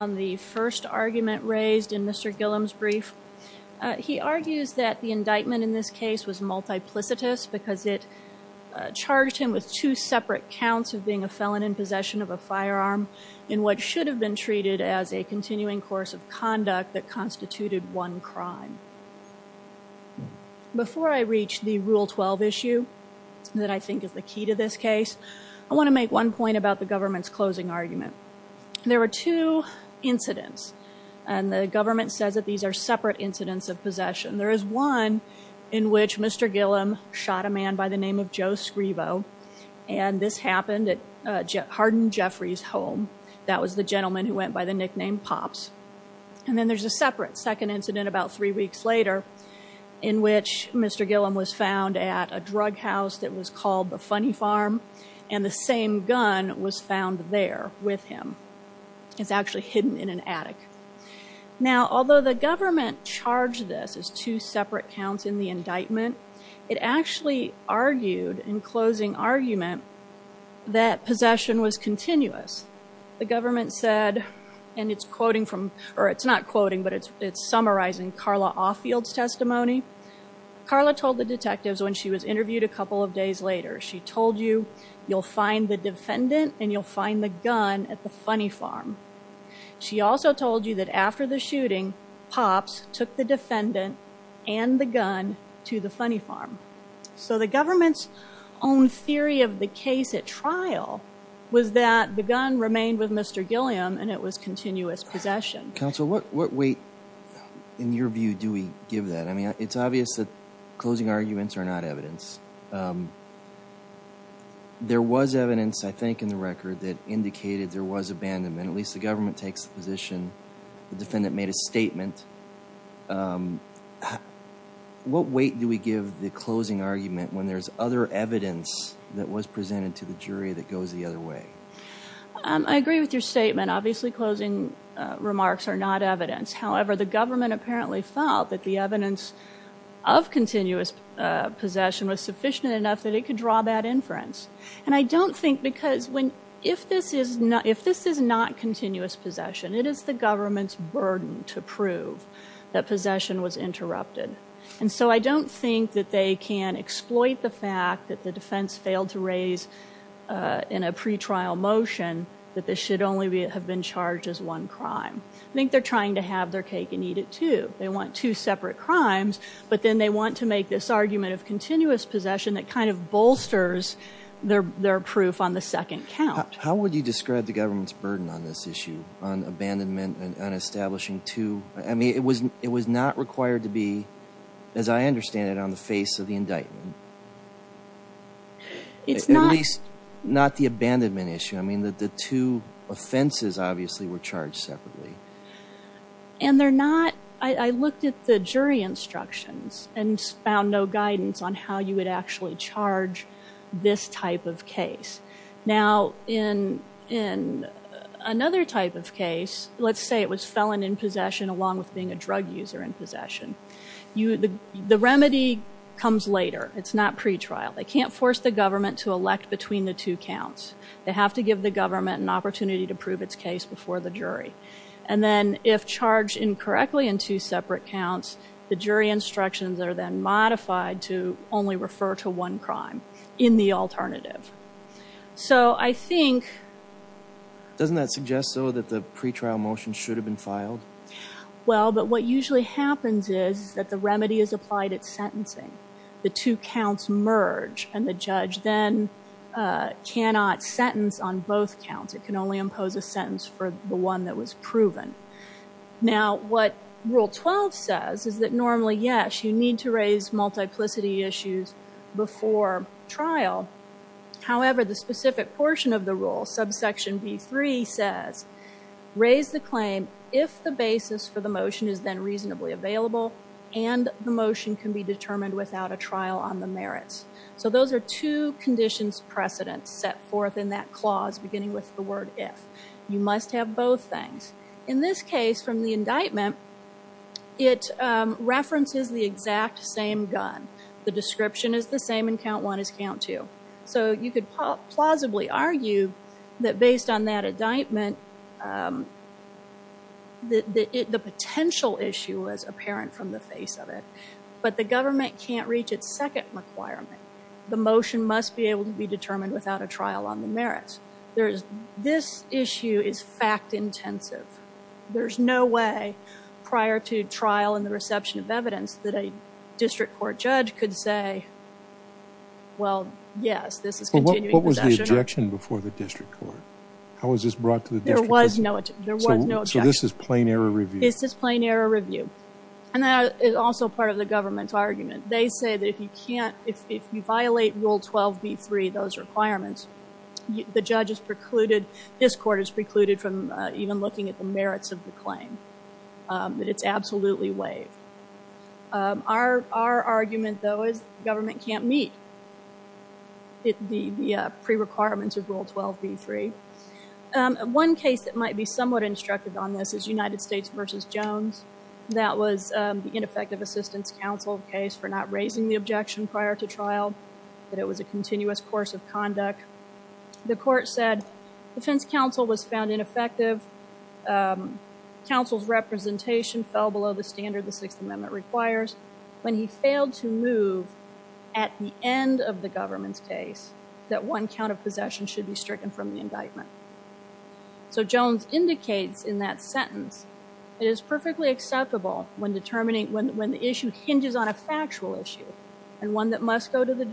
on the first argument raised in Mr. Gilliam's brief. He argues that the indictment in this case was multiplicitous because it charged him with two separate counts of being a felon in possession of a firearm in what should have been treated as a continuing course of conduct that constituted one crime. Before I reach the rule 12 issue that I think is the key to this incidents and the government says that these are separate incidents of possession. There is one in which Mr. Gilliam shot a man by the name of Joe Scrivo and this happened at Hardin Jeffrey's home. That was the gentleman who went by the nickname Pops and then there's a separate second incident about three weeks later in which Mr. Gilliam was found at a drug house that was called the Funny Farm and the same gun was found there with him. It's actually hidden in an attic. Now although the government charged this as two separate counts in the indictment, it actually argued in closing argument that possession was continuous. The government said and it's quoting from or it's not quoting but it's it's summarizing Carla Offield's testimony. Carla told the detectives when she was interviewed a couple of days later she told you you'll find the defendant and you'll find the gun at the Funny Farm. She also told you that after the shooting Pops took the defendant and the gun to the Funny Farm. So the government's own theory of the case at trial was that the gun remained with Mr. Gilliam and it was continuous possession. Counsel what what weight in your view do we give that? I mean it's obvious that closing arguments are not evidence. There was evidence I think in the record that indicated there was abandonment. At least the government takes the position. The defendant made a statement. What weight do we give the closing argument when there's other evidence that was presented to the jury that However the government apparently felt that the evidence of continuous possession was sufficient enough that it could draw bad inference and I don't think because when if this is not if this is not continuous possession it is the government's burden to prove that possession was interrupted and so I don't think that they can exploit the fact that the defense failed to raise in a pre-trial motion that this should only have been charged as one crime. I think they're trying to have their cake and eat it too. They want two separate crimes but then they want to make this argument of continuous possession that kind of bolsters their their proof on the second count. How would you describe the government's burden on this issue on abandonment and on establishing two I mean it was it was not required to be as I understand it on the face of the indictment. At least not the abandonment issue. I mean that the two offenses obviously were charged separately. And they're not I looked at the jury instructions and found no guidance on how you would actually charge this type of case. Now in in another type of case let's say it was felon in possession along with being a drug user in possession. The remedy comes later. It's not pre-trial. They can't force the government to elect between the two counts. They have to give the government an opportunity to prove its case before the jury. And then if charged incorrectly in two separate counts the jury instructions are then modified to only refer to one crime in the alternative. So I think Doesn't that suggest though that the pre-trial motion should have been filed? Well but what usually happens is that the remedy is applied at sentencing. The two counts merge and the judge then cannot sentence on both counts. It can only impose a sentence for the one that was proven. Now what rule 12 says is that normally yes you need to raise multiplicity issues before trial. However the specific portion of the rule subsection b3 says raise the claim if the basis for the motion is then reasonably available and the motion can be determined without a trial on the merits. So those are two conditions precedents set forth in that clause beginning with the word if. You must have both things. In this case from the indictment it references the exact same gun. The description is the same in count one as count two. So you could plausibly argue that based on that indictment the potential issue was apparent from the face of it. But the government can't reach its second requirement. The motion must be able to be determined without a trial on the merits. There is this issue is fact intensive. There's no way prior to trial and the reception of evidence that a district court judge could say well yes this is continuing. What was the objection before the district court? How was this brought to the district? There was no there was no objection. So this is plain error review? This is plain error review and that is also part of the government's argument. They say that if you can't if you violate rule 12 b3 those requirements the judge is precluded this court is precluded from even looking at the merits of the claim. That it's absolutely waived. Our argument though is government can't meet the pre-requirements of rule 12 b3. One case that might be somewhat instructive on this is United States versus Jones. That was the ineffective assistance counsel case for not raising the objection prior to trial. That it was a continuous course of conduct. The court said defense counsel was found ineffective. Counsel's representation fell below the standard the sixth amendment requires when he failed to move at the end of the government's case that one count of possession should be stricken from the indictment. So Jones indicates in that sentence it is perfectly acceptable when determining when the issue hinges on a factual issue and one that must go to the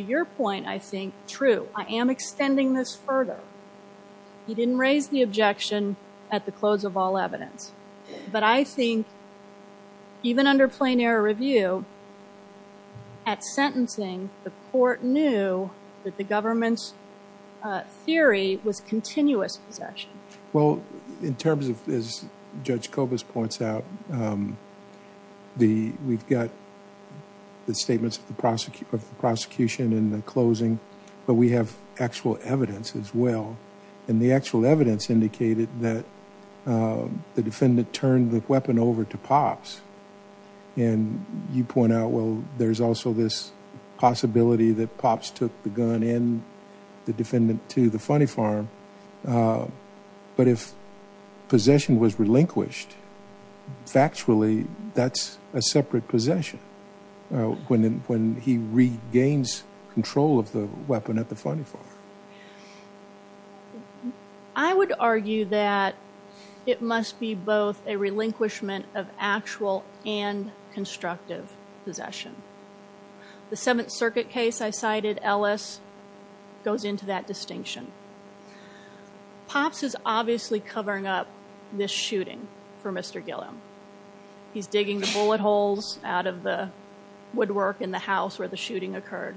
your point I think true. I am extending this further. He didn't raise the objection at the close of all evidence but I think even under plain error review at sentencing the court knew that the government's theory was continuous possession. Well in terms of as Judge Kovas points out, we've got the statements of the prosecution in the closing but we have actual evidence as well and the actual evidence indicated that the defendant turned the weapon over to Pops and you point out well there's also this possibility that Pops took the gun and the defendant to the funny farm but if possession was relinquished factually that's a separate possession when he regains control of the weapon at the funny farm. I would argue that it must be both a relinquishment of actual and constructive possession. The seventh circuit case I cited Ellis goes into that distinction. Pops is obviously covering up this shooting for Mr. Gilliam. He's digging the bullet holes out of the woodwork in the house where the shooting occurred.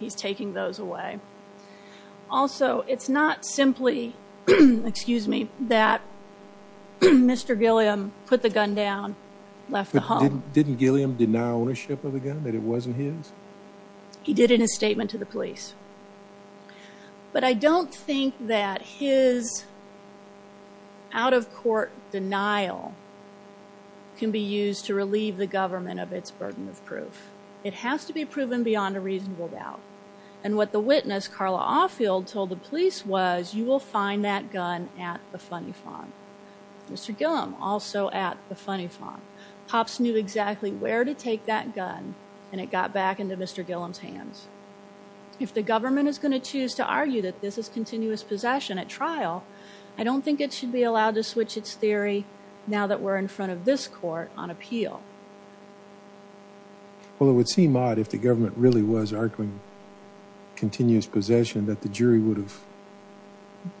He's taking those away. Also it's not simply excuse me that Mr. Gilliam put the gun down left the home. Didn't Gilliam deny ownership of the gun that it wasn't his? He did in a statement to the police but I don't think that his out of court denial can be used to relieve the government of its burden of proof. It has to be proven beyond a reasonable doubt and what the witness Carla Offield told the police was you will find that gun at the funny farm. Mr. Gilliam also at the funny farm. Pops knew exactly where to take that gun and it got back into Mr. Gilliam's hands. If the government is going to choose to argue that this is continuous possession at trial I don't think it should be allowed to switch its theory now that we're in front of this court on appeal. Well it would seem odd if the government really was arguing continuous possession that the jury would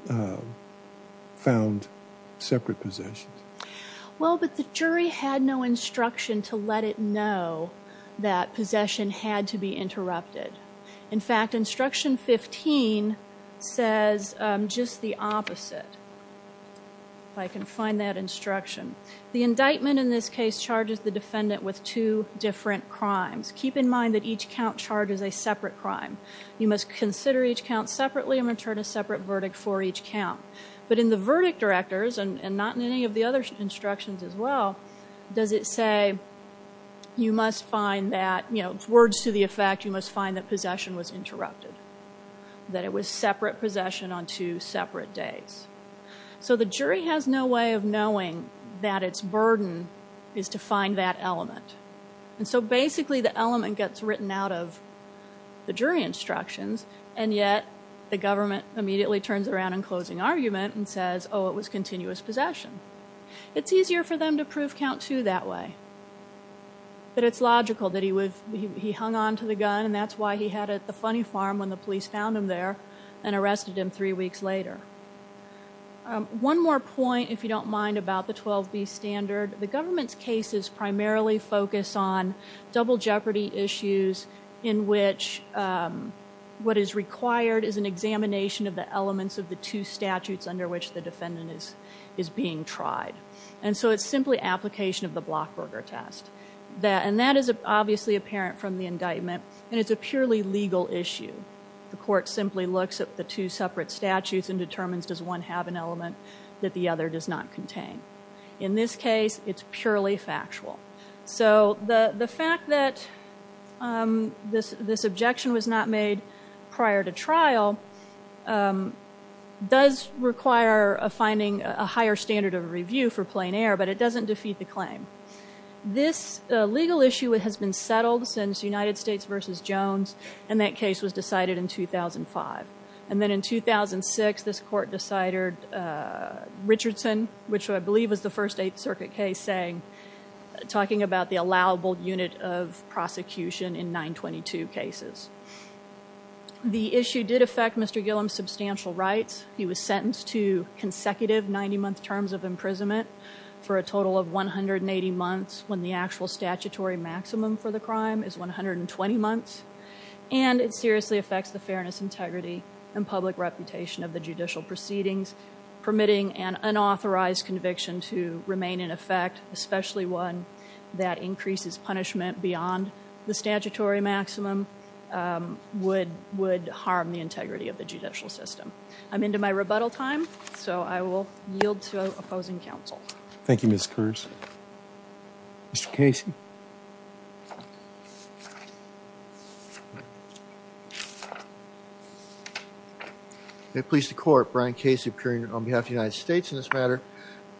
have found separate possessions. Well but the jury had no instruction to let it know that possession had to be interrupted. In fact instruction 15 says just the opposite. If I can find that instruction. The indictment in this case charges the defendant with two different crimes. Keep in mind that each count charges a separate crime. You must consider each count separately and return a separate verdict for each count. But in the verdict directors and not in any of the other instructions as well does it say you must find that you know words to the effect you must find that possession was interrupted. That it was separate possession on two separate days. So the jury has no way of knowing that its burden is to find that element and so basically the element gets written out of the jury instructions and yet the government immediately turns around in closing argument and says oh it was continuous possession. It's easier for them to prove count two that way. But it's logical that he would he hung on to the gun and that's why he had it at the funny farm when the police found him there and arrested him three weeks later. One more point if you don't mind about the 12b standard. The government's cases primarily focus on double jeopardy issues in which what is required is an examination of the elements of the two statutes under which the defendant is is being tried and so it's simply application of the blockburger test. And that is obviously apparent from the indictment and it's a purely legal issue. The court simply looks at the two separate statutes and determines does one have an element that the other does not this this objection was not made prior to trial does require a finding a higher standard of review for plain air but it doesn't defeat the claim. This legal issue has been settled since United States versus Jones and that case was decided in 2005 and then in 2006 this court decided Richardson which I believe was the first circuit case saying talking about the allowable unit of prosecution in 922 cases. The issue did affect Mr. Gillum's substantial rights. He was sentenced to consecutive 90 month terms of imprisonment for a total of 180 months when the actual statutory maximum for the crime is 120 months and it seriously affects the fairness integrity and public reputation of the especially one that increases punishment beyond the statutory maximum would would harm the integrity of the judicial system. I'm into my rebuttal time so I will yield to opposing counsel. Thank you Ms. Kurtz. Mr. Casey. May it please the court Brian Casey appearing on behalf of the United States in this matter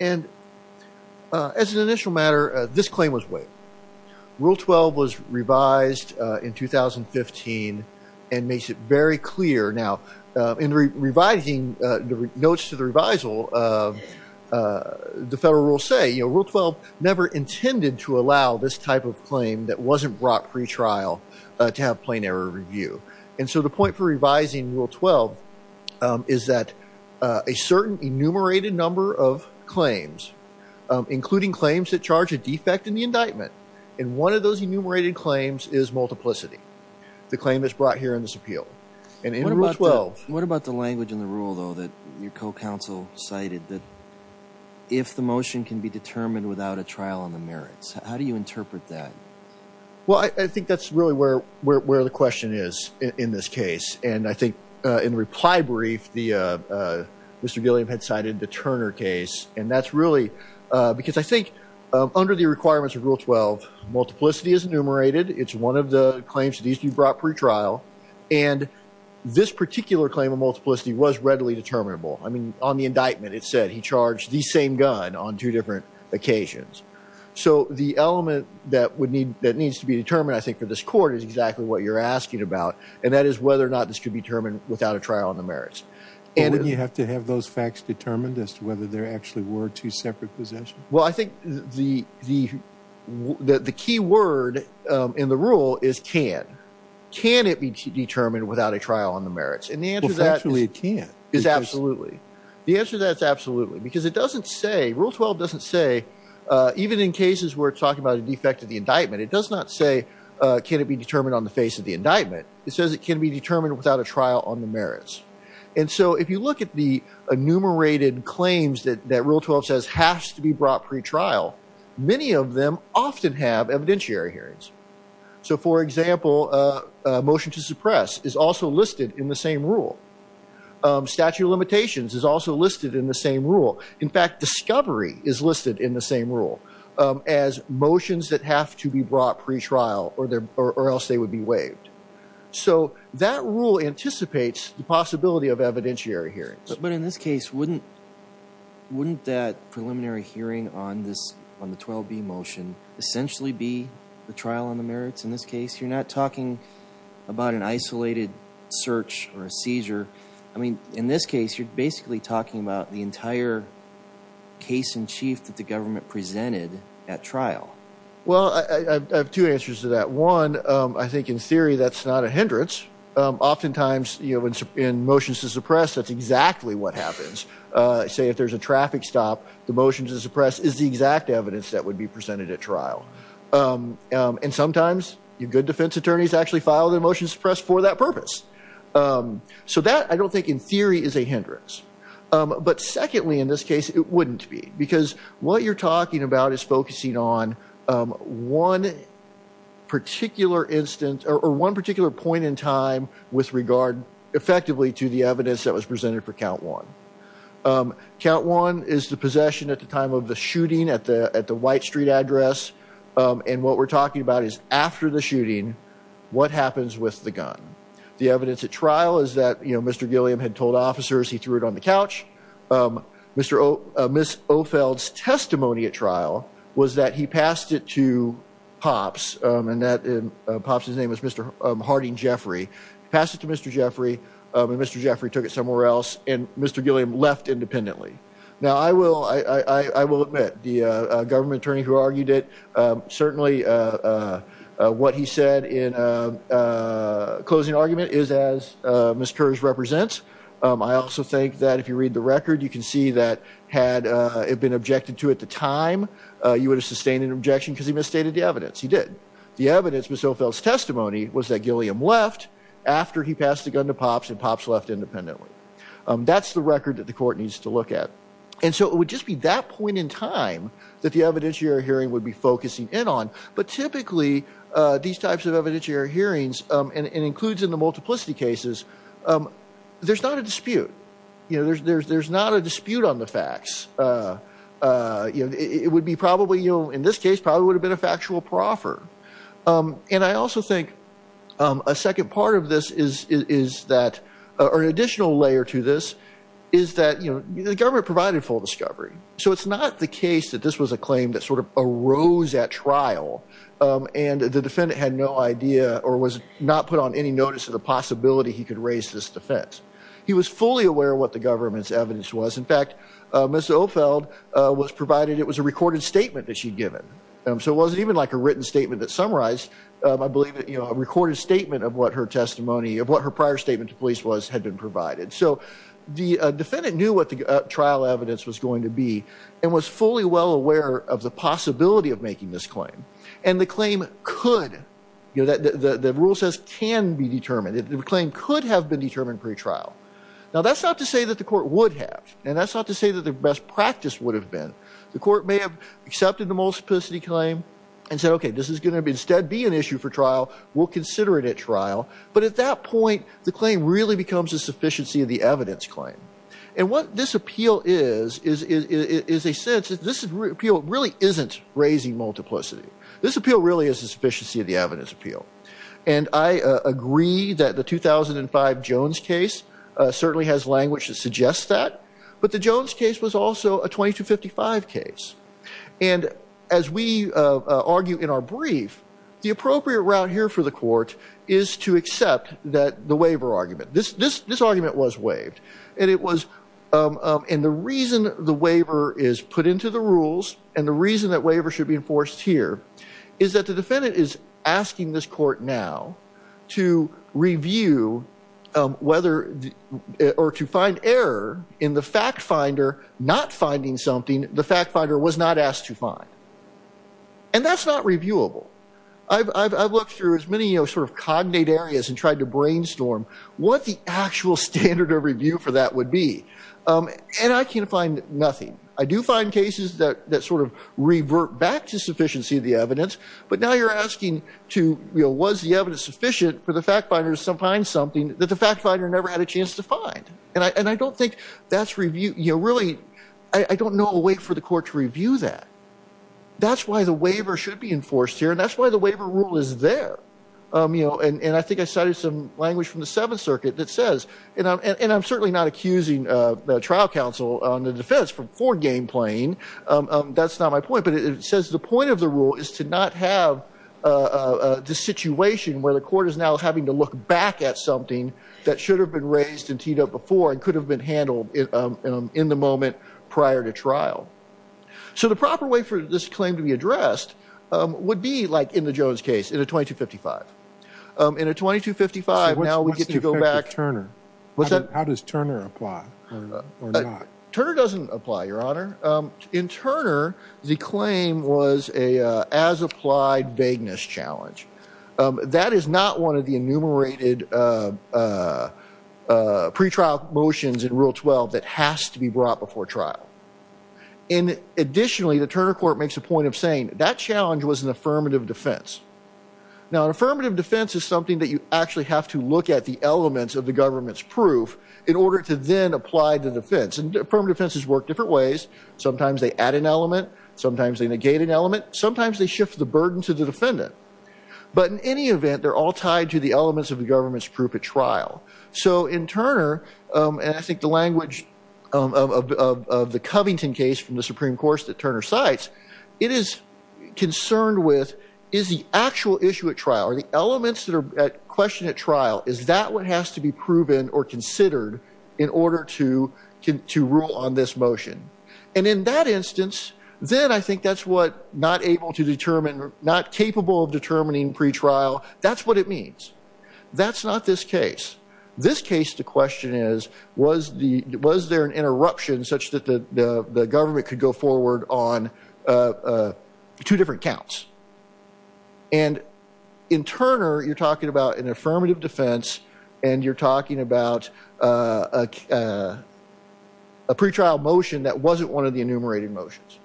and as an initial matter this claim was waived. Rule 12 was revised in 2015 and makes it very clear now in revising the notes to the revisal of the federal rule say you know rule 12 never intended to allow this type of claim that wasn't brought pre-trial to have plain air review and so the point for revising rule 12 is that a certain enumerated number of claims including claims that charge a defect in the indictment and one of those enumerated claims is multiplicity the claim that's brought here in this appeal and in rule 12. What about the language in the rule though that your co-counsel cited that if the motion can be determined without a trial on the merits how do you interpret that? Well I think that's really where where the question is in this case and I think in the reply brief the Mr. Gilliam had cited the Turner case and that's really because I think under the requirements of rule 12 multiplicity is enumerated it's one of the claims that needs to be brought pre-trial and this particular claim of multiplicity was readily determinable I mean on the indictment it said he charged the same gun on two different occasions so the element that would need that needs to be determined I think for this court is exactly what you're asking about and that is whether or not this could be determined without a trial on the merits. And would you have to have those facts determined as to whether there actually were two separate possessions? Well I think the the the key word in the rule is can. Can it be determined without a the answer that's absolutely because it doesn't say rule 12 doesn't say even in cases we're talking about a defect of the indictment it does not say can it be determined on the face of the indictment it says it can be determined without a trial on the merits and so if you look at the enumerated claims that that rule 12 says has to be brought pre-trial many of them often have evidentiary hearings. So for example a motion to suppress is also listed in the same rule. Statute of is also listed in the same rule. In fact discovery is listed in the same rule as motions that have to be brought pre-trial or their or else they would be waived. So that rule anticipates the possibility of evidentiary hearings. But in this case wouldn't wouldn't that preliminary hearing on this on the 12b motion essentially be the trial on the merits in this case you're not talking about an isolated search or a seizure I mean in this case you're basically talking about the entire case in chief that the government presented at trial. Well I have two answers to that one I think in theory that's not a hindrance oftentimes you know in motions to suppress that's exactly what happens. Say if there's a traffic stop the motion to suppress is the exact evidence that filed a motion to suppress for that purpose. So that I don't think in theory is a hindrance. But secondly in this case it wouldn't be because what you're talking about is focusing on one particular instance or one particular point in time with regard effectively to the evidence that was presented for count one. Count one is the possession at the time of the shooting at the White Street address and what we're talking about is after the shooting what happens with the gun. The evidence at trial is that you know Mr. Gilliam had told officers he threw it on the couch. Mr. Miss Ofeld's testimony at trial was that he passed it to Pops and that in Pops his name was Mr. Harding Jeffrey. Passed it to Mr. Jeffrey and Mr. Jeffrey took it somewhere else and Mr. I will admit the government attorney who argued it certainly what he said in a closing argument is as Miss Kersh represents. I also think that if you read the record you can see that had it been objected to at the time you would have sustained an objection because he misstated the evidence. He did. The evidence Miss Ofeld's testimony was that Gilliam left after he passed the gun to Pops and Pops left independently. That's the record that the court needs to look at and so it would just be that point in time that the evidentiary hearing would be focusing in on but typically these types of evidentiary hearings and includes in the multiplicity cases there's not a dispute. You know there's there's there's not a dispute on the facts. You know it would be probably you know in this case probably would have been a factual proffer and I also think a second part of this is is that or an additional layer to this is that you know the government provided full discovery. So it's not the case that this was a claim that sort of arose at trial and the defendant had no idea or was not put on any notice of the possibility he could raise this defense. He was fully aware what the government's evidence was. In fact Miss Ofeld was provided it was a recorded statement that she'd given so it wasn't even like a written statement that summarized. I believe that you know a recorded statement of what her testimony of what her prior statement to police was had been provided. So the defendant knew what the trial evidence was going to be and was fully well aware of the possibility of making this claim and the claim could you know that the the rule says can be determined. The claim could have been determined pre-trial. Now that's not to say that the court would have and that's not to say that the best practice would have been. The court may have accepted the multiplicity claim and said okay this is going to be instead be an issue for trial. We'll consider it at trial but at that point the claim really becomes a sufficiency of the evidence claim and what this appeal is is is a sense that this appeal really isn't raising multiplicity. This appeal really is the sufficiency of the evidence appeal and I agree that the 2005 Jones case certainly has language that suggests that but the Jones case was also a 2255 case and as we argue in our brief the appropriate route here for the court is to accept that the waiver argument this this this argument was waived and it was and the reason the waiver is put into the rules and the reason that waiver should be enforced here is that the defendant is asking this court now to review whether or to find error in the fact finder not finding something the fact finder was not asked to find and that's not reviewable. I've looked through as many you know sort of cognate areas and tried to brainstorm what the actual standard of review for that would be and I can't find nothing. I do find cases that that sort of the evidence but now you're asking to you know was the evidence sufficient for the fact finders to find something that the fact finder never had a chance to find and I and I don't think that's review you know really I don't know a way for the court to review that. That's why the waiver should be enforced here and that's why the waiver rule is there you know and and I think I cited some language from the seventh circuit that says and I'm and I'm certainly not accusing the trial counsel on the defense for for game playing that's not my point but it says the point of the rule is to not have this situation where the court is now having to look back at something that should have been raised in TDOT before and could have been handled in the moment prior to trial. So the proper way for this claim to be addressed would be like in the Jones case in a 2255. In a 2255 now we get to go back to Turner. What's that how does Turner apply or not? Turner doesn't apply your honor. In Turner the claim was a as applied vagueness challenge. That is not one of the enumerated pre-trial motions in rule 12 that has to be brought before trial and additionally the Turner court makes a point of saying that challenge was an affirmative defense. Now an affirmative defense is something that you actually have to look at the elements of the government's proof in order to then apply the defense and affirmative defenses work different ways. Sometimes they add an element. Sometimes they negate an element. Sometimes they shift the burden to the defendant but in any event they're all tied to the elements of the government's proof at trial. So in Turner and I think the language of the Covington case from the supreme course that Turner cites it is concerned with is the actual issue at trial or the elements that are questioned at trial is that what has to be proven or considered in order to rule on this motion. And in that instance then I think that's what not able to determine not capable of determining pre-trial that's what it means. That's not this case. This case the question is was the was there an interruption such that the government could go forward on two different counts. And in Turner you're talking about an affirmative defense and you're talking about a pre-trial motion that wasn't one of the enumerated motions.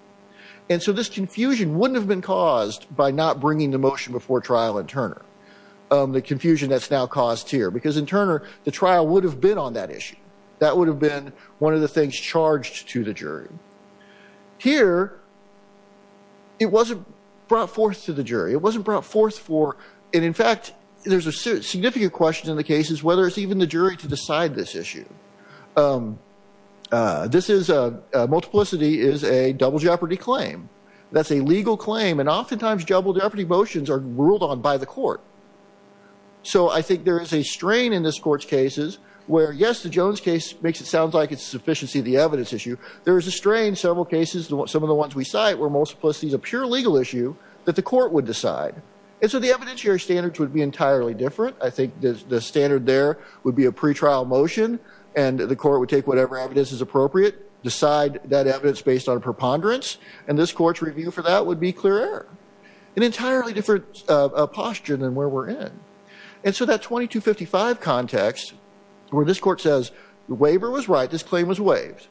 And so this confusion wouldn't have been caused by not bringing the motion before trial in Turner. The confusion that's now caused here because in Turner the trial would have been on that issue. That would have been one of the things charged to the jury. Here it wasn't brought forth to the jury. It wasn't brought forth for and in fact there's a significant question in the cases whether it's even the jury to decide this issue. This is a multiplicity is a double jeopardy claim. That's a legal claim and oftentimes double jeopardy motions are ruled on by the court. So I think there is a strain in this court's cases where yes the Jones case makes it sound like it's a sufficiency of the evidence issue. There is a strain several cases some of the ones we cite where multiplicity is a pure legal issue that the court would decide. And so the evidentiary standards would be entirely different. I think the standard there would be a pre-trial motion and the court would take whatever evidence is appropriate decide that evidence based on preponderance and this court's review for that would be clear error. An entirely different posture than where we're in. And so that 2255 context where this court says the waiver was right this claim was waived.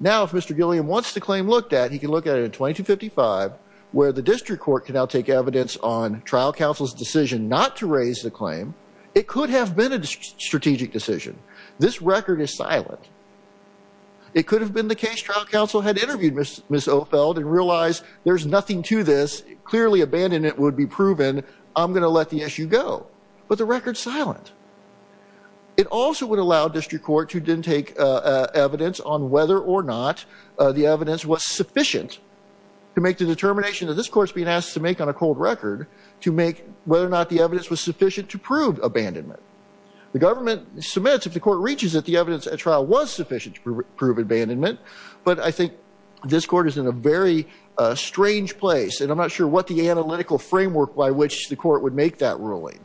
Now if Mr. Gilliam wants the claim looked at he can look at it in 2255 where the district court can now take evidence on trial counsel's decision not to raise the claim. It could have been a strategic decision. This record is silent. It could have been the case trial counsel had interviewed Ms. Ofeld and realized there's nothing to this. Clearly abandonment would be proven. I'm going to let the issue go. But the record's silent. It also would allow district court to then take evidence on whether or not the evidence was sufficient to make the determination that this court's being asked to make on a cold record to make whether or not the evidence was sufficient to prove abandonment. The government submits if the court reaches that the evidence at trial was sufficient to prove abandonment. But I think this court is in a very strange place and I'm not sure what the analytical framework by which the court would make that ruling.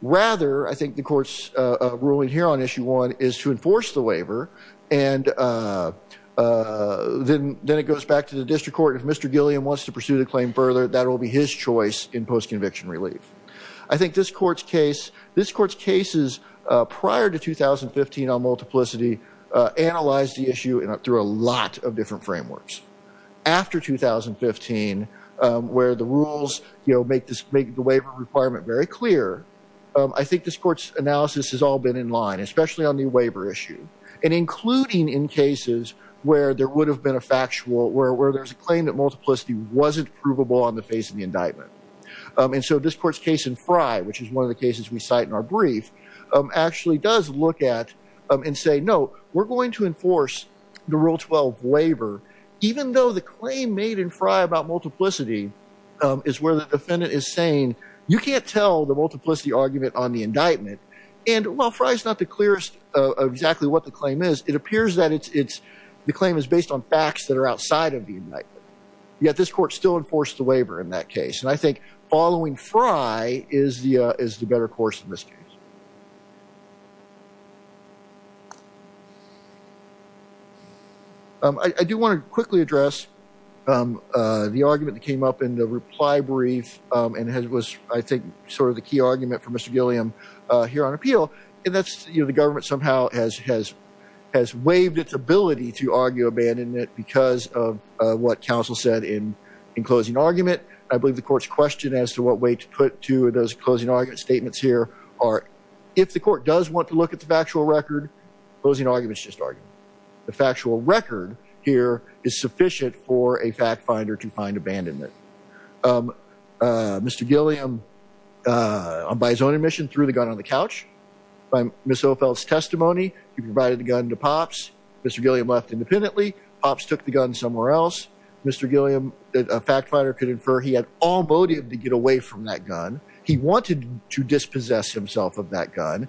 Rather I think the court's ruling here on issue one is to enforce the waiver and then it goes back to the district court. If Mr. Gilliam wants to pursue the claim further that will be his choice in post-conviction relief. I think this court's case this court's prior to 2015 on multiplicity analyzed the issue through a lot of different frameworks. After 2015 where the rules make the waiver requirement very clear, I think this court's analysis has all been in line especially on the waiver issue. And including in cases where there would have been a factual where there's a claim that multiplicity wasn't provable on the face of indictment. And so this court's case in Frye which is one of the cases we cite in our brief actually does look at and say no we're going to enforce the rule 12 waiver even though the claim made in Frye about multiplicity is where the defendant is saying you can't tell the multiplicity argument on the indictment. And while Frye is not the clearest of exactly what the claim is it appears that it's the claim is based on facts that are outside of the indictment. Yet this court still enforced the waiver in that case. And I think following Frye is the better course in this case. I do want to quickly address the argument that came up in the reply brief and has was I think sort of the key argument for Mr. Gilliam here on appeal. And that's you know the government somehow has has has waived its ability to argue abandonment because of what counsel said in in closing argument. I believe the court's question as to what way to put to those closing argument statements here are if the court does want to look at the factual record closing arguments just argument. The factual record here is sufficient for a fact finder to find abandonment. Mr. Gilliam by his own admission threw the gun on the couch. By Ms. Ophel's testimony he provided the gun to Pops. Mr. Gilliam left independently. Pops took the gun somewhere else. Mr. Gilliam a fact finder could infer he had all voted to get away from that gun. He wanted to dispossess himself of that gun.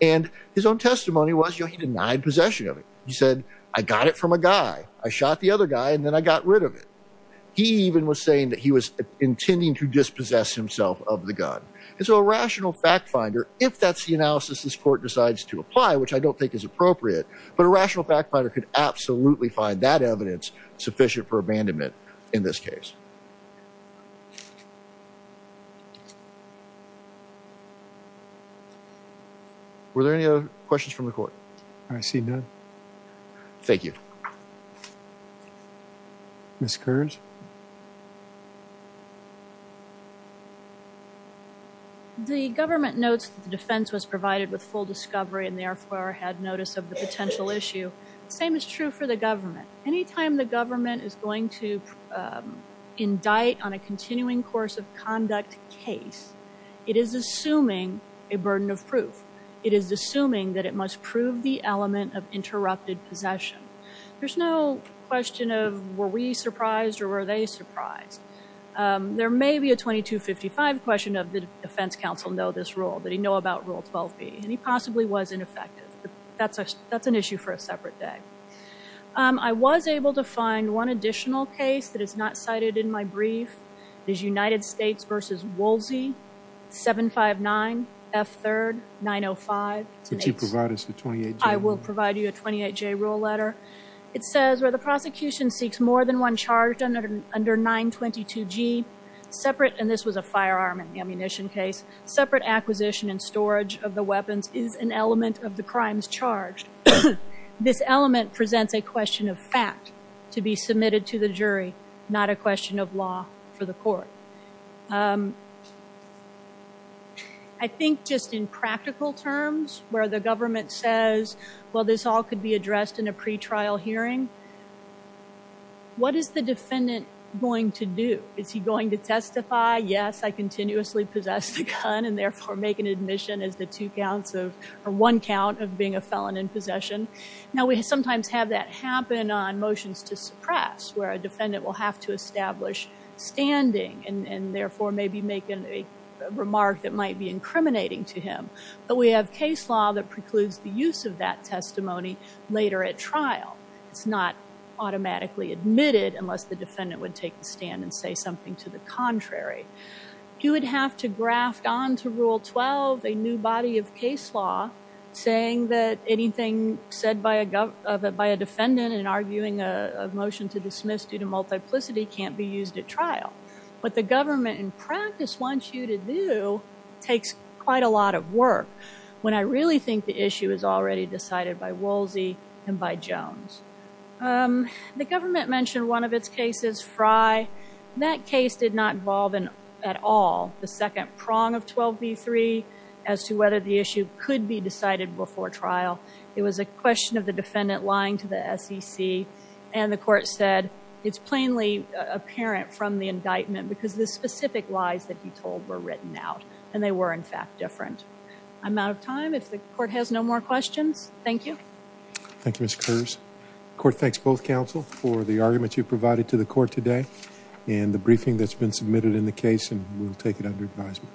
And his own testimony was you know he denied possession of it. He said I got it from a guy. I shot the other guy and then I got rid of it. He even was saying that he was intending to dispossess himself of the gun. And so a rational fact finder if that's the analysis this court decides to apply, which I don't think is appropriate, but a rational fact finder could absolutely find that evidence sufficient for abandonment in this case. Were there any other questions from the court? I see none. Thank you. Ms. Kearns. The government notes that the defense was provided with full discovery and therefore had notice of the potential issue. The same is true for the government. Anytime the government is going to indict on a continuing course of conduct case, it is assuming a burden of proof. It is assuming that it must prove the element of interrupted possession. There's no question of were we surprised or were they surprised. There may be a 2255 question of the defense counsel know this rule. That he know about rule 12b. And he possibly was ineffective. That's an issue for a separate day. I was able to find one additional case that is not cited in my brief. There's United States versus Woolsey, 759 F third 905. I will provide you a 28 J rule letter. It says where the prosecution seeks more than one charge under 922 G separate. And this was a firearm and ammunition case separate acquisition and storage of the weapons is an element of the crimes charged. This element presents a question of fact to be submitted to the jury. Not a question of law for the court. I think just in practical terms, where the government says, well, this all could be addressed in a pretrial hearing, what is the defendant going to do? Is he going to testify? Yes, I continuously possess the gun and therefore make an admission as the two counts of or one count of being a felon in possession. Now, we sometimes have that happen on motions to suppress where a defendant will have to establish standing and therefore maybe make a remark that might be incriminating to him. But we have case law that precludes the use of that testimony later at trial. It's not automatically admitted unless the defendant would take the stand and say something to the contrary. You would have to graft on to rule 12 a new body of case law saying that anything said by a defendant in arguing a motion to dismiss due to multiplicity can't be used at trial. What the government in practice wants you to do takes quite a lot of work when I really think the issue is already decided by Woolsey and by Jones. The government mentioned one of its cases, Fry. That case did not involve at all the second prong of 12b3 as to whether the issue could be decided before trial. It was a question of the defendant lying to the SEC and the court said it's plainly apparent from the indictment because the specific lies that he told were written out and they were in fact different. I'm out of time. If the court has no more questions, thank you. Thank you, Ms. Kurz. Court thanks both counsel for the argument you provided to the court today and the briefing that's been submitted in the case and we'll take it under advisement.